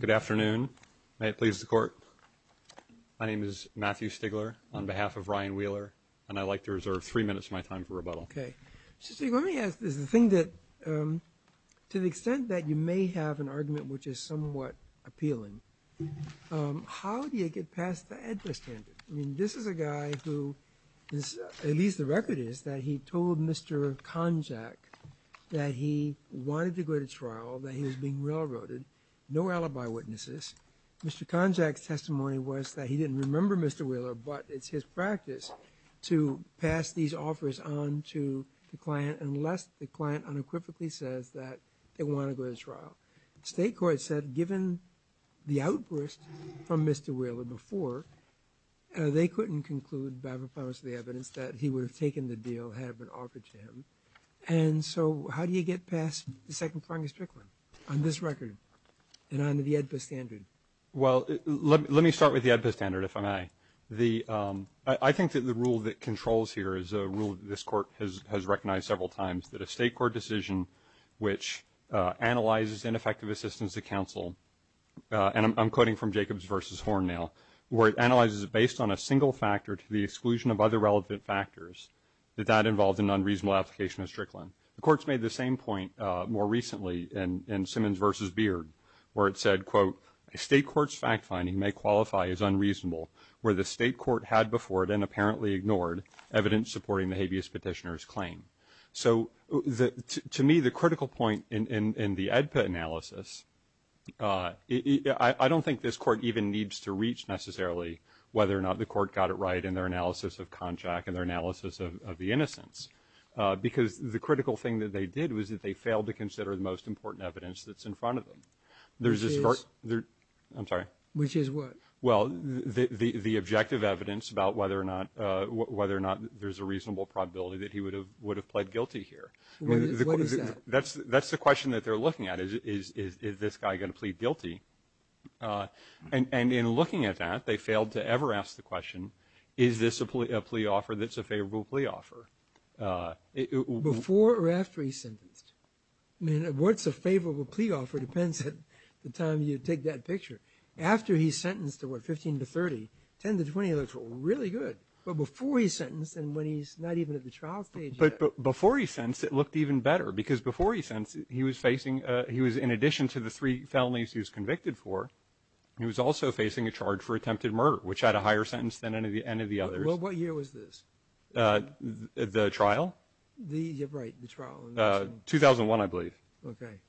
Good afternoon. May it please the Court. My name is Matthew Stigler on behalf of Ryan Wheeler and I'd like to reserve three minutes of my time for rebuttal. Okay, so let me ask this. The thing that, to the extent that you may have an argument which is somewhat appealing, how do you get past the address standard? I mean, this is a guy who is, at least the record is, that he told Mr. Konjac that he wanted to go to trial, that he was being railroaded, no alibi witnesses. Mr. Konjac's testimony was that he didn't remember Mr. Wheeler, but it's his practice to pass these offers on to the client unless the client unequivocally says that they want to go to trial. State court said given the outburst from Mr. Wheeler before, they couldn't conclude by the promise of the evidence that he had, how do you get past the second-pronged strickland on this record and on the AEDPA standard? Well, let me start with the AEDPA standard, if I may. I think that the rule that controls here is a rule that this Court has recognized several times, that a State court decision which analyzes ineffective assistance to counsel, and I'm quoting from Jacobs v. Horn now, where it analyzes it based on a single factor to the exclusion of other relevant factors, that that involved an unreasonable application of the same point more recently in Simmons v. Beard, where it said, quote, a State court's fact-finding may qualify as unreasonable where the State court had before it and apparently ignored evidence supporting the habeas petitioner's claim. So to me, the critical point in the AEDPA analysis, I don't think this Court even needs to reach necessarily whether or not the Court got it right in their analysis of Konjac and their analysis of the innocence, because the critical thing that they did was that they failed to consider the most important evidence that's in front of them. Which is? I'm sorry. Which is what? Well, the objective evidence about whether or not there's a reasonable probability that he would have pled guilty here. What is that? That's the question that they're looking at, is this guy going to plead guilty? And in looking at that, they failed to ever ask the question, is this a plea offer that's a favorable plea offer? Before or after he's sentenced? I mean, what's a favorable plea offer depends on the time you take that picture. After he's sentenced to, what, 15 to 30, 10 to 20 looks really good. But before he's sentenced and when he's not even at the trial stage yet. Before he's sentenced, it looked even better, because before he's sentenced, he was facing – he was, in addition to the three felonies he was convicted for, he was also facing a charge for attempted murder, which had a higher sentence than any of the others. What year was this? The trial? The, yeah, right, the trial. 2001, I believe. Okay.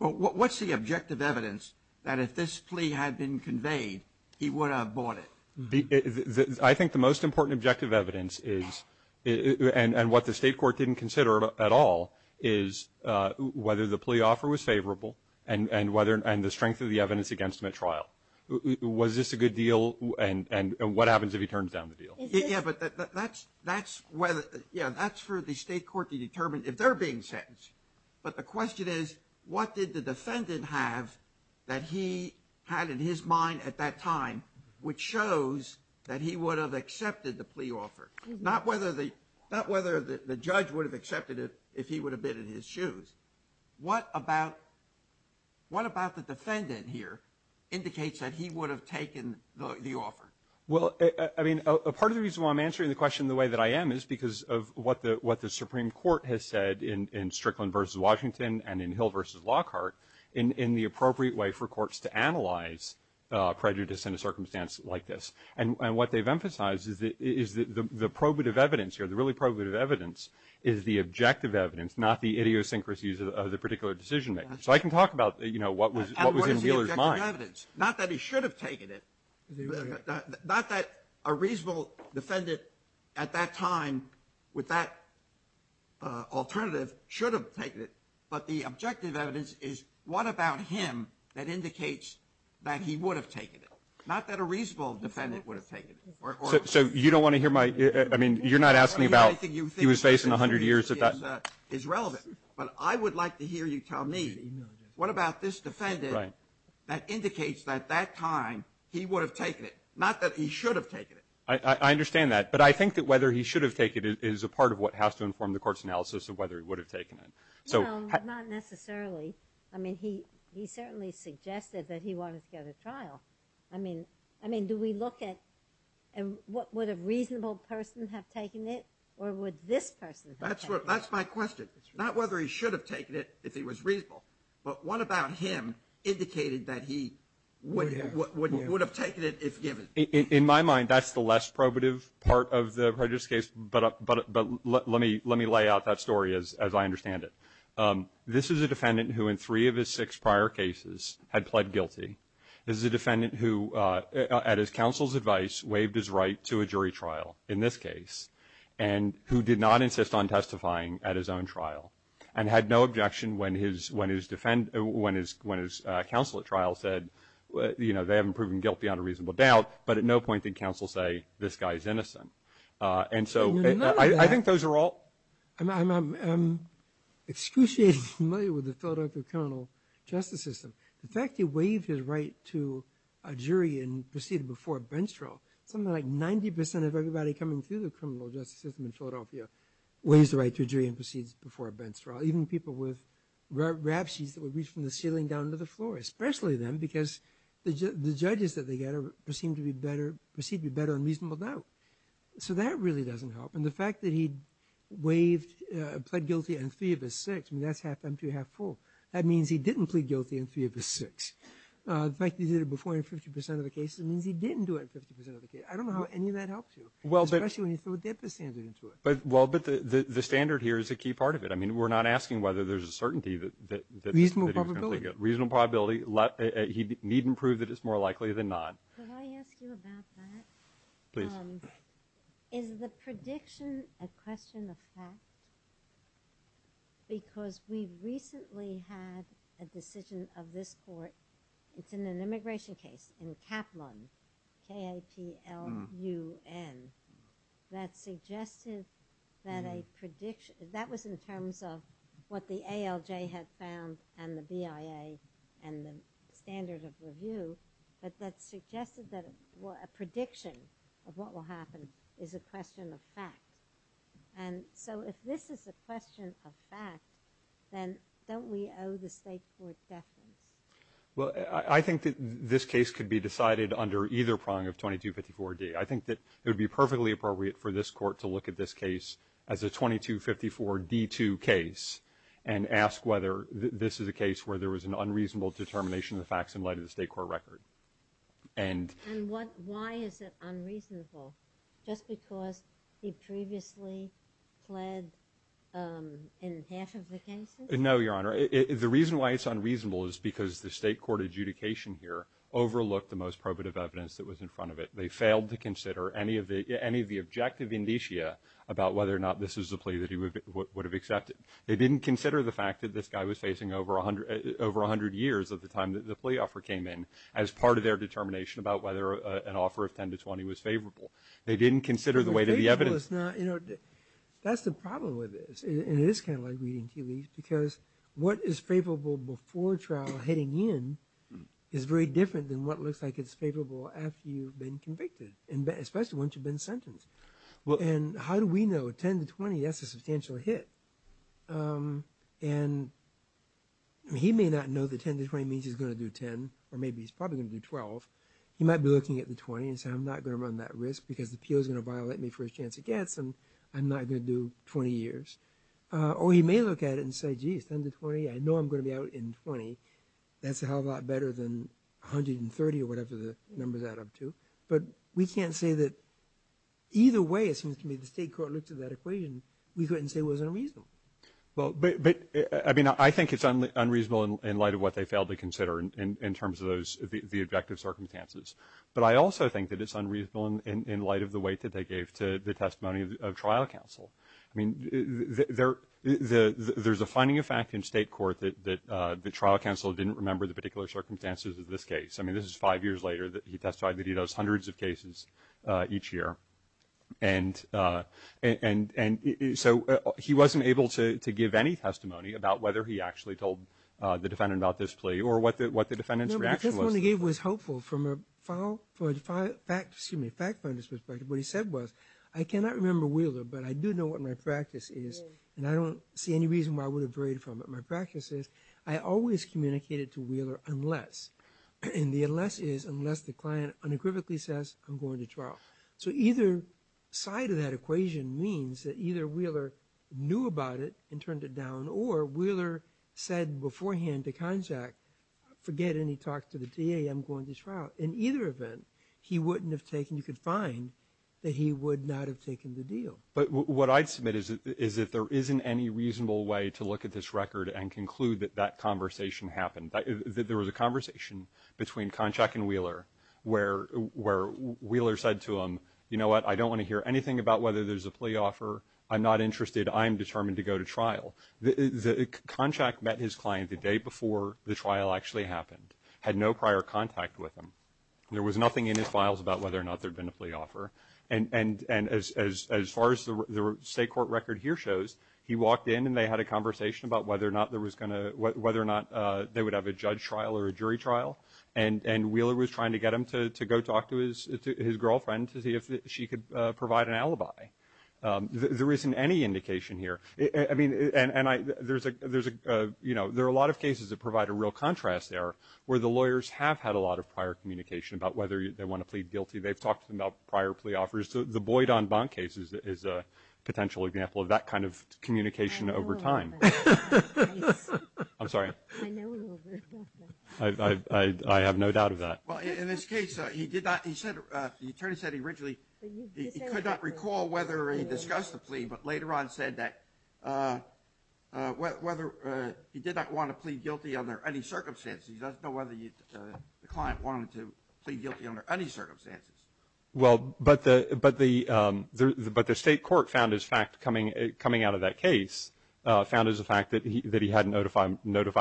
Well, what's the objective evidence that if this plea had been conveyed, he would have bought it? I think the most important objective evidence is – and what the State court didn't consider at all is whether the plea offer was favorable and whether – and the strength of the evidence against him at trial. Was this a good deal? And what happens if he turns down the deal? Yeah, but that's whether – yeah, that's for the State court to determine if they're being sentenced. But the question is, what did the defendant have that he had in his mind at that time which shows that he would have accepted the plea offer? Not whether the judge would have accepted it if he would have been in his shoes. What about – what about the defendant here indicates that he would have taken the offer? Well, I mean, a part of the reason why I'm answering the question the way that I am is because of what the Supreme Court has said in Strickland v. Washington and in Hill v. Lockhart in the appropriate way for courts to analyze prejudice in a circumstance like this. And what they've emphasized is that the probative evidence here, the really probative evidence, is the objective evidence, not the idiosyncrasies of the particular decision maker. So I can talk about, you know, what was in Wheeler's mind. And what is the objective evidence? Not that he should have taken it. Not that a reasonable defendant at that time with that alternative should have taken it. But the objective evidence is what about him that indicates that he would have taken it? Not that a reasonable defendant would have taken it. So you don't want to hear my – I mean, you're not asking about he was faced in 100 years if that – I think you think the situation is relevant. But I would like to hear you tell me what about this defendant that indicates that at that time he would have taken it? Not that he should have taken it. I understand that. But I think that whether he should have taken it is a part of what has to inform the court's analysis of whether he would have taken it. So – No, not necessarily. I mean, he certainly suggested that he wanted to go to trial. I mean, do we look at – would a reasonable person have taken it or would this person have taken it? That's my question. Not whether he should have taken it if he was reasonable, but what about him indicated that he would have taken it if given? In my mind, that's the less probative part of the prejudice case, but let me lay out that story as I understand it. This is a defendant who in three of his six prior cases had pled guilty. This is a defendant who, at his counsel's advice, waived his right to a jury trial in this case, and who did not insist on testifying at his own trial, and had no objection when his counsel at trial said, you know, they haven't proven guilty on a reasonable doubt, but at no point did counsel say, this guy is innocent. And so – None of that. I think those are all – I'm excruciatingly familiar with the Philadelphia criminal justice system. The fact he waived his right to a jury and proceeded before a bench trial, something like 90 percent of everybody coming through the criminal justice system in Philadelphia waives the right to a jury and proceeds before a bench trial, even people with rap sheets that would reach from the ceiling down to the floor, especially them, because the judges that they get are perceived to be better on reasonable doubt. So that really doesn't help. And the fact that he waived, pled guilty on three of his six, I mean, that's half empty and half full. That means he didn't plead guilty on three of his six. The fact that he did it before in 50 percent of the cases means he didn't do it in 50 percent of the cases. I don't know how any of that helps you. Especially when you throw a dead person into it. Well, but the standard here is a key part of it. I mean, we're not asking whether there's a certainty that he was going to plead guilty. Reasonable probability? Reasonable probability. He needn't prove that it's more likely than not. Could I ask you about that? Please. Is the prediction a question of fact? It's in an immigration case in Kaplan, K-A-P-L-A-N. That suggested that a prediction, that was in terms of what the ALJ had found and the BIA and the standard of review, but that suggested that a prediction of what will happen is a question of fact. And so if this is a question of fact, then don't we owe the State Court deference? Well, I think that this case could be decided under either prong of 2254-D. I think that it would be perfectly appropriate for this Court to look at this case as a 2254-D2 case and ask whether this is a case where there was an unreasonable determination of the facts in light of the State Court record. And why is it unreasonable? Just because he previously pled in half of the cases? No, Your Honor. The reason why it's unreasonable is because the State Court adjudication here overlooked the most probative evidence that was in front of it. They failed to consider any of the objective indicia about whether or not this is a plea that he would have accepted. They didn't consider the fact that this guy was facing over 100 years of the time that the plea offer came in as part of their determination about whether an offer of 10 to 20 was favorable. They didn't consider the way that the evidence… That's the problem with this, and it is kind of like reading tea leaves, because what is favorable before trial heading in is very different than what looks like it's favorable after you've been convicted, especially once you've been sentenced. And how do we know? 10 to 20, that's a substantial hit. And he may not know that 10 to 20 means he's going to do 10, or maybe he's probably going to do 12. He might be looking at the 20 and say, I'm not going to run that risk because the PO is going to violate me for his chance against, and I'm not going to do 20 years. Or he may look at it and say, geez, 10 to 20, I know I'm going to be out in 20. That's a hell of a lot better than 130 or whatever the numbers add up to. But we can't say that either way, it seems to me, the state court looked at that equation, we couldn't say it was unreasonable. Well, but I mean, I think it's unreasonable in light of what they failed to consider in terms of those, the objective circumstances. But I also think that it's unreasonable in light of the weight that they gave to the testimony of trial counsel. I mean, there's a finding of fact in state court that the trial counsel didn't remember the particular circumstances of this case. I mean, this is five years later that he testified that he does hundreds of cases each year. And so he wasn't able to give any testimony about whether he actually told the defendant about this plea or what the defendant's reaction was. The testimony he gave was helpful from a fact finder's perspective. What he said was, I cannot remember Wheeler, but I do know what my practice is, and I don't see any reason why I would have varied from it. My practice is I always communicated to Wheeler unless, and the unless is unless the client unequivocally says, I'm going to trial. So either side of that equation means that either Wheeler knew about it and turned it down, or Wheeler said beforehand to Konchak, forget any talk to the DA, I'm going to trial. In either event, he wouldn't have taken, you could find that he would not have taken the deal. But what I'd submit is that there isn't any reasonable way to look at this record and conclude that that conversation happened. There was a conversation between Konchak and Wheeler where Wheeler said to him, you know what, I don't want to hear anything about whether there's a plea offer. I'm not interested. I'm determined to go to trial. Konchak met his client the day before the trial actually happened, had no prior contact with him. There was nothing in his files about whether or not there had been a plea offer. And as far as the state court record here shows, he walked in and they had a conversation about whether or not there was going to, whether or not they would have a judge trial or a jury trial. And Wheeler was trying to get him to go talk to his girlfriend to see if she could provide an alibi. There isn't any indication here. I mean, and I, there's a, there's a, you know, there are a lot of cases that provide a real contrast there where the lawyers have had a lot of prior communication about whether they want to plead guilty. They've talked to them about prior plea offers. The Boydon-Bonk case is a potential example of that kind of communication over time. I'm sorry. I have no doubt of that. Well, in this case, he did not, he said, the attorney said he originally, he could not recall whether he discussed the plea, but later on said that whether he did not want to plead guilty under any circumstances. He doesn't know whether the client wanted to plead guilty under any circumstances. Well, but the, but the, but the state court found his fact coming, coming out of that case, found as a fact that he, that he had notified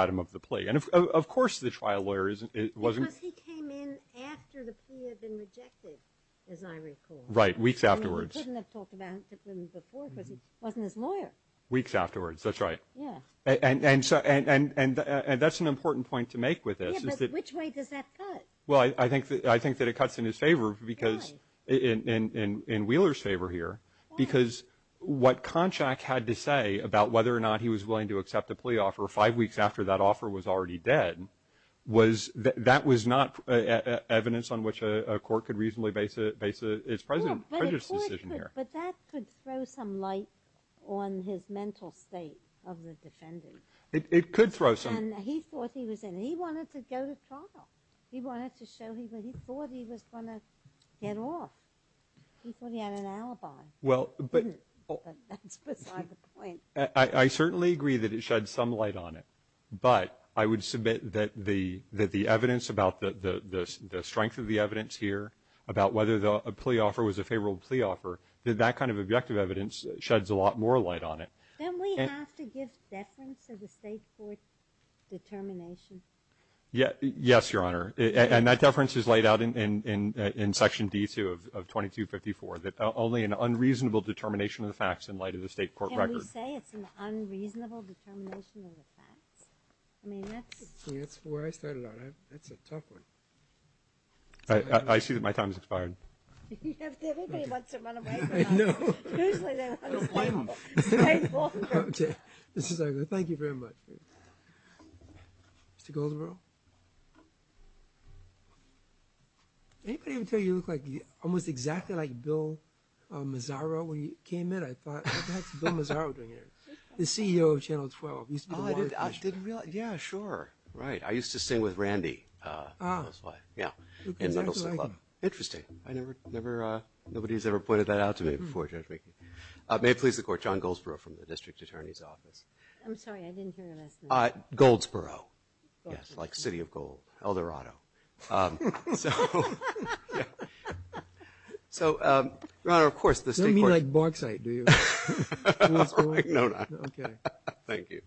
him of the plea. And of course the trial lawyer isn't, wasn't. Because he came in after the plea had been rejected, as I recall. Right. Weeks afterwards. I mean, he couldn't have talked about it to them before because he wasn't his lawyer. Weeks afterwards. That's right. Yeah. And, and so, and, and, and, and that's an important point to make with this. Yeah, but which way does that cut? Well, I, I think that, I think that it cuts in his favor because, in, in, in, in Wheeler's favor here. Why? Because what Konchak had to say about whether or not he was willing to accept a plea offer five weeks after that offer was already dead was that, that was not evidence on which a, a court could reasonably base a, base a, it's President, President's decision here. Well, but the court could, but that could throw some light on his mental state of the defendant. It, it could throw some. And he thought he was in. He wanted to go to trial. He wanted to show he, he thought he was going to get off. He thought he had an alibi. Well, but. But that's beside the point. I, I certainly agree that it sheds some light on it, but I would submit that the, that the evidence about the, the, the, the strength of the evidence here about whether the plea offer was a favorable plea offer, that that kind of objective evidence sheds a lot more light on it. Then we have to give deference to the State court determination. Yeah, yes, Your Honor. And that deference is laid out in, in, in, in Section D2 of 2254, that only an unreasonable determination of the facts in light of the State court record. Did we say it's an unreasonable determination of the facts? I mean, that's. Yeah, that's where I started out. I, that's a tough one. I, I, I see that my time has expired. You have to, everybody wants to run away from that. I know. Usually they want to stay, stay longer. Okay. Mr. Zargar, thank you very much. Mr. Golderow. Anybody ever tell you you look like, almost exactly like Bill Mazzaro when you came in? The CEO of Channel 12. Oh, I didn't, I didn't realize. Yeah, sure. Right. I used to sing with Randy. Ah. Yeah. Interesting. I never, never, nobody's ever pointed that out to me before, Judge Mackey. May it please the Court, John Goldsboro from the District Attorney's Office. I'm sorry, I didn't hear your last name. Goldsboro. Yes, like City of Gold, Eldorado. So, yeah. So, Your Honor, of course, the State court. You don't mean like Barksite, do you? No, not. Okay. Thank you.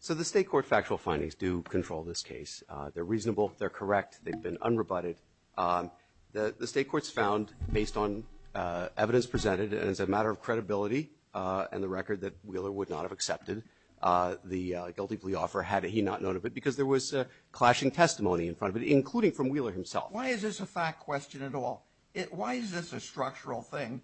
So, the State court factual findings do control this case. They're reasonable. They're correct. They've been unrebutted. The State court's found, based on evidence presented and as a matter of credibility and the record that Wheeler would not have accepted the guilty plea offer had he not known of it, because there was clashing testimony in front of it, including from Wheeler himself. Why is this a fact question at all? Why is this a structural thing?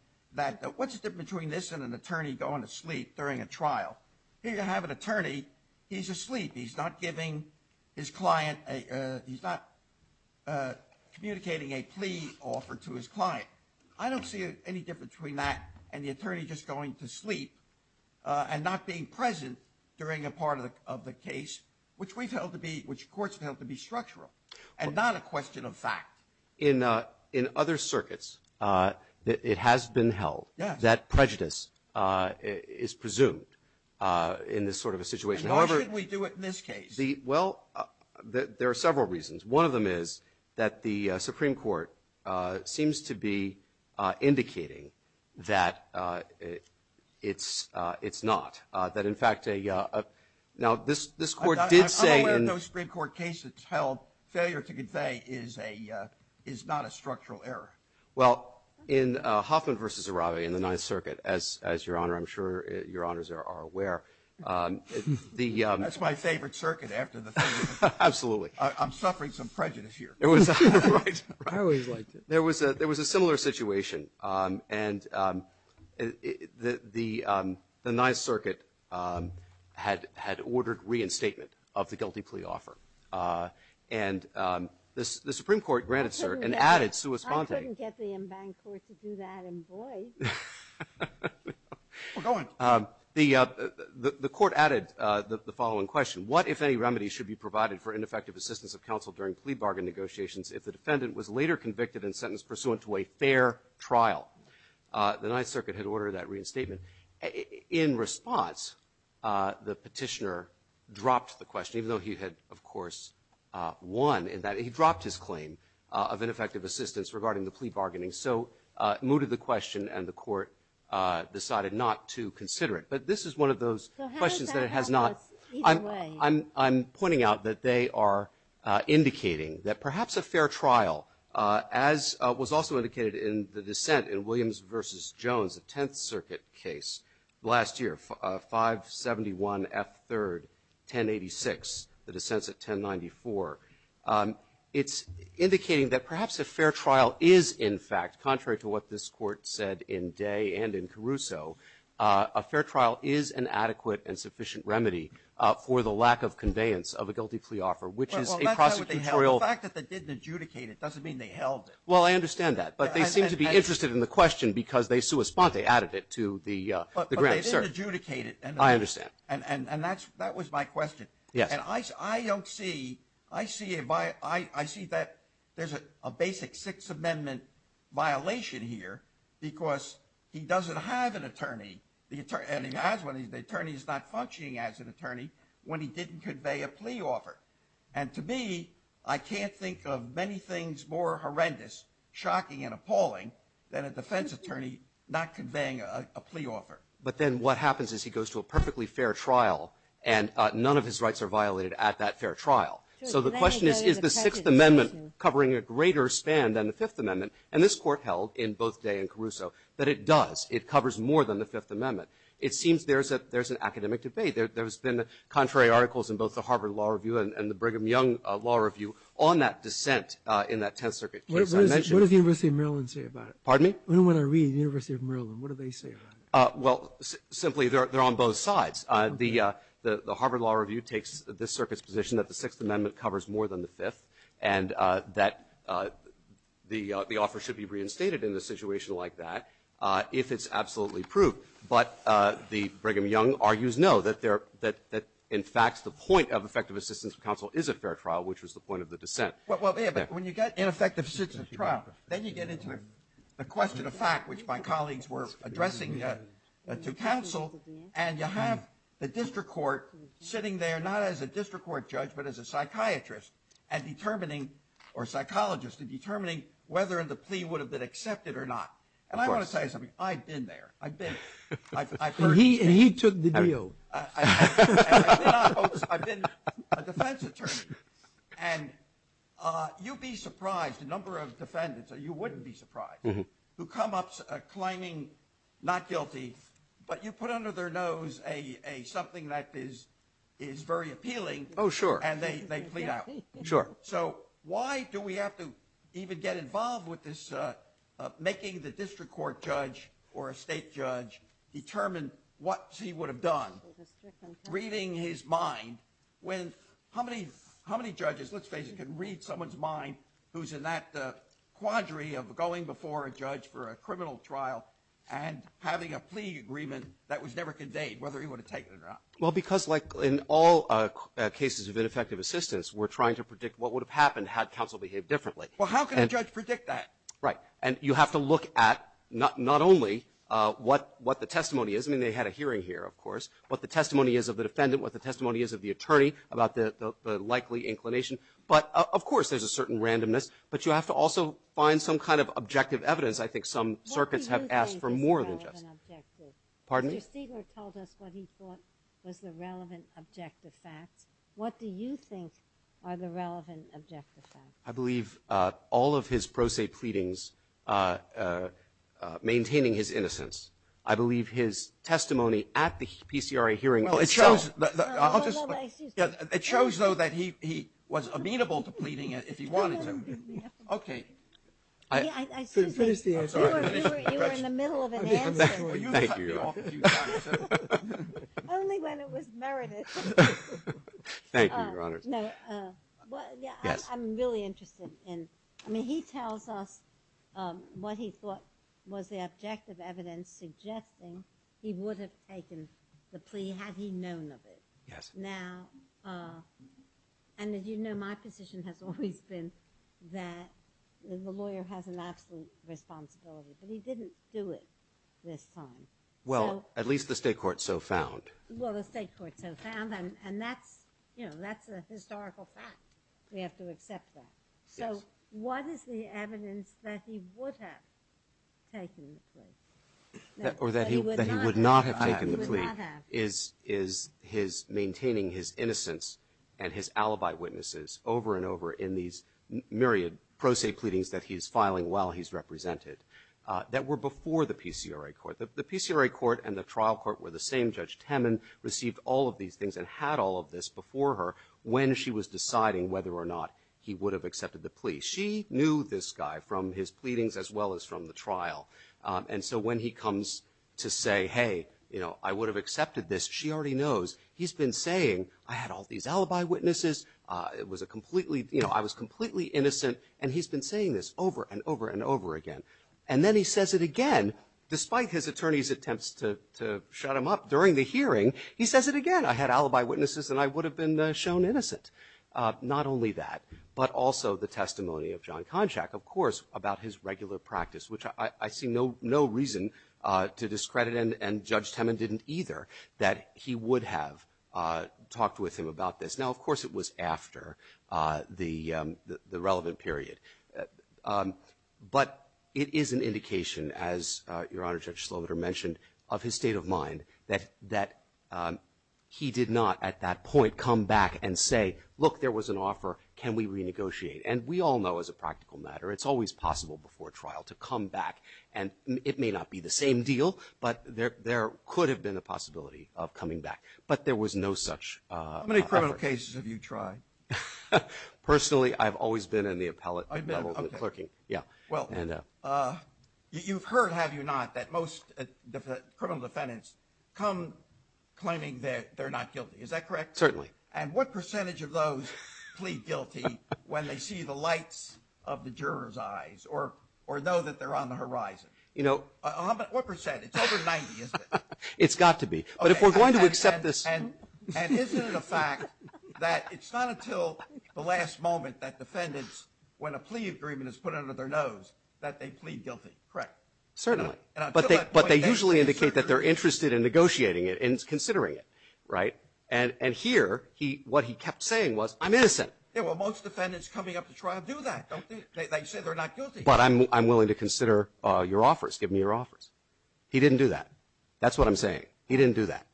What's the difference between this and an attorney going to sleep during a trial? Here you have an attorney. He's asleep. He's not giving his client a – he's not communicating a plea offer to his client. I don't see any difference between that and the attorney just going to sleep and not being present during a part of the case, which we've held to be – which courts have held to be structural and not a question of fact. In other circuits, it has been held. Yes. That prejudice is presumed in this sort of a situation. And why should we do it in this case? Well, there are several reasons. One of them is that the Supreme Court seems to be indicating that it's not. That, in fact, a – now, this Court did say in – is not a structural error. Well, in Hoffman v. Arabe in the Ninth Circuit, as Your Honor, I'm sure Your Honors are aware, the – That's my favorite circuit after the – Absolutely. I'm suffering some prejudice here. It was – I always liked it. There was a similar situation. And the Ninth Circuit had ordered reinstatement of the guilty plea offer. And the Supreme Court granted, sir, and added – I couldn't get the en banc court to do that in voice. Well, go ahead. The Court added the following question. What, if any, remedy should be provided for ineffective assistance of counsel during plea bargain negotiations if the defendant was later convicted and sentenced pursuant to a fair trial? The Ninth Circuit had ordered that reinstatement. In response, the petitioner dropped the question, even though he had, of course, won in that he dropped his claim of ineffective assistance regarding the plea bargaining. So it mooted the question, and the Court decided not to consider it. But this is one of those questions that it has not – So how does that help us either way? I'm pointing out that they are indicating that perhaps a fair trial, as was also Last year, 571 F. 3rd, 1086, the dissents at 1094. It's indicating that perhaps a fair trial is, in fact, contrary to what this court said in Day and in Caruso, a fair trial is an adequate and sufficient remedy for the lack of conveyance of a guilty plea offer, which is a prosecutorial Well, that's not what they held. The fact that they didn't adjudicate it doesn't mean they held it. Well, I understand that. But they seem to be interested in the question because they added it to the grant. But they didn't adjudicate it. I understand. And that was my question. Yes. And I don't see – I see that there's a basic Sixth Amendment violation here because he doesn't have an attorney, and he has one. The attorney is not functioning as an attorney when he didn't convey a plea offer. And to me, I can't think of many things more horrendous, shocking and appalling than a defense attorney not conveying a plea offer. But then what happens is he goes to a perfectly fair trial, and none of his rights are violated at that fair trial. So the question is, is the Sixth Amendment covering a greater span than the Fifth Amendment? And this court held in both Day and Caruso that it does. It covers more than the Fifth Amendment. It seems there's an academic debate. There's been contrary articles in both the Harvard Law Review and the Brigham Young Law Review on that dissent in that Tenth Circuit case I mentioned. What does the University of Maryland say about it? Pardon me? When I read the University of Maryland, what do they say about it? Well, simply, they're on both sides. The Harvard Law Review takes this circuit's position that the Sixth Amendment covers more than the Fifth and that the offer should be reinstated in a situation like that if it's absolutely proved. But the Brigham Young argues no, that in fact the point of effective assistance of counsel is a fair trial, which was the point of the dissent. Well, yeah, but when you get ineffective assistance of trial, then you get into the question of fact, which my colleagues were addressing to counsel, and you have the district court sitting there, not as a district court judge, but as a psychiatrist and determining, or psychologist, and determining whether the plea would have been accepted or not. And I want to say something. I've been there. I've been. He took the deal. I've been a defense attorney. And you'd be surprised, a number of defendants, you wouldn't be surprised, who come up claiming not guilty, but you put under their nose something that is very appealing. Oh, sure. And they plead out. Sure. So why do we have to even get involved with this making the district court judge or a state judge determine what he would have done, reading his mind, when how many judges, let's face it, can read someone's mind who's in that quadri of going before a judge for a criminal trial and having a plea agreement that was never conveyed, whether he would have taken it or not? Well, because, like in all cases of ineffective assistance, we're trying to predict what would have happened had counsel behaved differently. Well, how can a judge predict that? Right. And you have to look at not only what the testimony is. I mean, they had a hearing here, of course, what the testimony is of the defendant, what the testimony is of the attorney about the likely inclination. But, of course, there's a certain randomness. But you have to also find some kind of objective evidence. What do you think is the relevant objective? Pardon me? Mr. Stigler told us what he thought was the relevant objective facts. What do you think are the relevant objective facts? I believe all of his pro se pleadings maintaining his innocence. I believe his testimony at the PCRA hearing itself. Well, it shows that he was amenable to pleading if he wanted to. Okay. I see. You were in the middle of an answer. Thank you, Your Honor. Only when it was merited. Thank you, Your Honor. I'm really interested in, I mean, he tells us what he thought was the objective evidence suggesting he would have taken the plea had he known of it. Yes. Now, and as you know, my position has always been that the lawyer has an absolute responsibility. But he didn't do it this time. Well, at least the state court so found. Well, the state court so found, and that's a historical fact. We have to accept that. So what is the evidence that he would have taken the plea? Or that he would not have taken the plea? He would not have. Is his maintaining his innocence and his alibi witnesses over and over in these myriad pro se pleadings that he's filing while he's represented that were before the PCRA court? The PCRA court and the trial court were the same. Judge Temin received all of these things and had all of this before her when she was deciding whether or not he would have accepted the plea. She knew this guy from his pleadings as well as from the trial. And so when he comes to say, hey, you know, I would have accepted this, she already knows. He's been saying, I had all these alibi witnesses. It was a completely, you know, I was completely innocent. And he's been saying this over and over and over again. And then he says it again, despite his attorney's attempts to shut him up during the hearing, he says it again. I had alibi witnesses and I would have been shown innocent. Not only that, but also the testimony of John Konchak, of course, about his regular practice, which I see no reason to discredit and Judge Temin didn't either, that he would have talked with him about this. Now, of course, it was after the relevant period. But it is an indication, as Your Honor, Judge Slovitter mentioned, of his state of mind that he did not at that point come back and say, look, there was an offer. Can we renegotiate? And we all know as a practical matter it's always possible before trial to come back. And it may not be the same deal, but there could have been a possibility of coming back. But there was no such effort. In what cases have you tried? Personally, I've always been in the appellate level, the clerking. Well, you've heard, have you not, that most criminal defendants come claiming that they're not guilty. Is that correct? Certainly. And what percentage of those plead guilty when they see the lights of the juror's eyes or know that they're on the horizon? What percent? It's over 90, isn't it? It's got to be. But if we're going to accept this. And isn't it a fact that it's not until the last moment that defendants, when a plea agreement is put under their nose, that they plead guilty? Correct. Certainly. But they usually indicate that they're interested in negotiating it and considering it, right? And here, what he kept saying was, I'm innocent. Yeah, well, most defendants coming up to trial do that, don't they? They say they're not guilty. But I'm willing to consider your offers. Give me your offers. He didn't do that. That's what I'm saying. He didn't do that.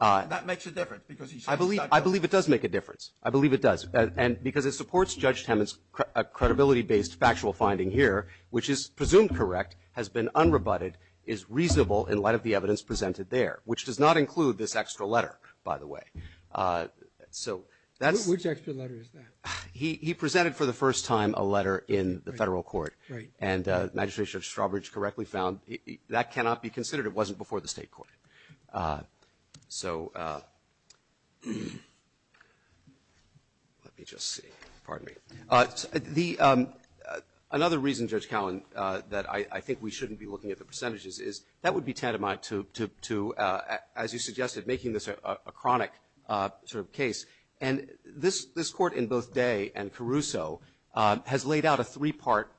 That makes a difference because he said he's not guilty. I believe it does make a difference. I believe it does. And because it supports Judge Temin's credibility-based factual finding here, which is presumed correct, has been unrebutted, is reasonable in light of the evidence presented there, which does not include this extra letter, by the way. Which extra letter is that? He presented for the first time a letter in the federal court. Right. And Magistrate Judge Strawbridge correctly found that cannot be considered. It wasn't before the state court. So let me just see. Pardon me. Another reason, Judge Cowen, that I think we shouldn't be looking at the percentages is that would be tantamount to, as you suggested, making this a chronic sort of case. And this Court in both Day and Caruso has laid out a three-part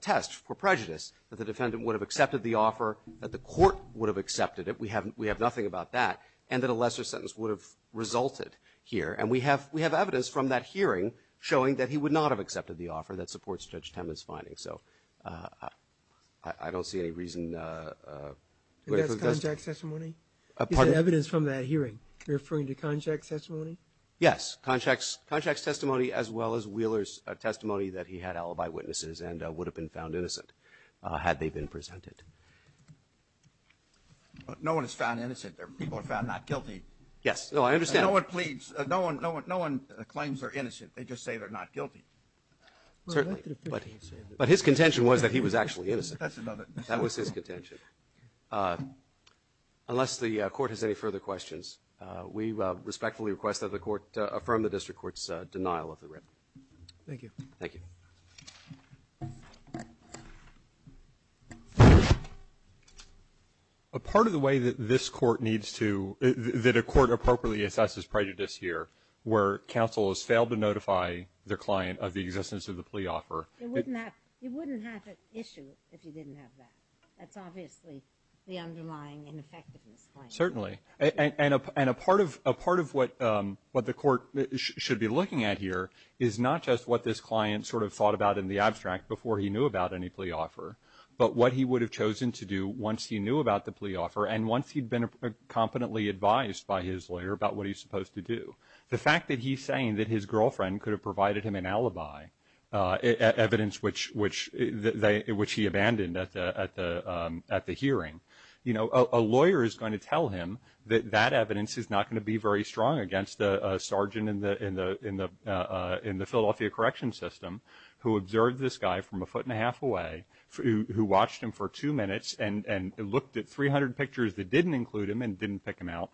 test for prejudice, that the defendant would have accepted the offer, that the court would have accepted it. We have nothing about that. And that a lesser sentence would have resulted here. And we have evidence from that hearing showing that he would not have accepted the offer that supports Judge Temin's findings. So I don't see any reason to wait for the testimony. And that's Conchac's testimony? You said evidence from that hearing. You're referring to Conchac's testimony? Yes. Conchac's testimony as well as Wheeler's testimony that he had alibi witnesses and would have been found innocent had they been presented. No one is found innocent. They're people found not guilty. Yes. No, I understand. No one pleads. No one claims they're innocent. They just say they're not guilty. Certainly. But his contention was that he was actually innocent. That's another. That was his contention. Unless the Court has any further questions, we respectfully request that the Court affirm the district court's denial of the writ. Thank you. Thank you. Thank you. A part of the way that this Court needs to, that a court appropriately assesses prejudice here where counsel has failed to notify their client of the existence of the plea offer. You wouldn't have an issue if you didn't have that. That's obviously the underlying ineffectiveness claim. Certainly. And a part of what the Court should be looking at here is not just what this client sort of thought about in the abstract before he knew about any plea offer, but what he would have chosen to do once he knew about the plea offer and once he'd been competently advised by his lawyer about what he's supposed to do. The fact that he's saying that his girlfriend could have provided him an alibi, evidence which he abandoned at the hearing, you know, a lawyer is going to tell him that that evidence is not going to be very strong against a sergeant in the Philadelphia corrections system who observed this guy from a foot and a half away, who watched him for two minutes and looked at 300 pictures that didn't include him and didn't pick him out.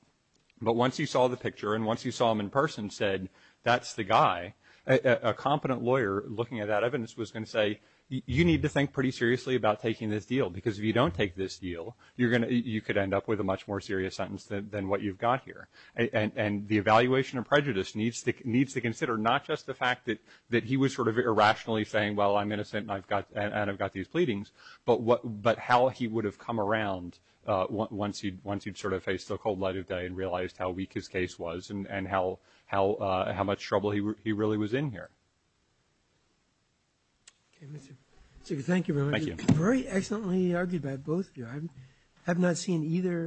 But once he saw the picture and once he saw him in person, said that's the guy, a competent lawyer looking at that evidence was going to say, you need to think pretty seriously about taking this deal because if you don't take this deal, you could end up with a much more serious sentence than what you've got here. And the evaluation of prejudice needs to consider not just the fact that he was sort of irrationally saying, well, I'm innocent and I've got these pleadings, but how he would have come around once he'd sort of faced the cold light of day and realized how weak his case was and how much trouble he really was in here. Thank you very much. Very excellently argued by both of you. I have not seen either.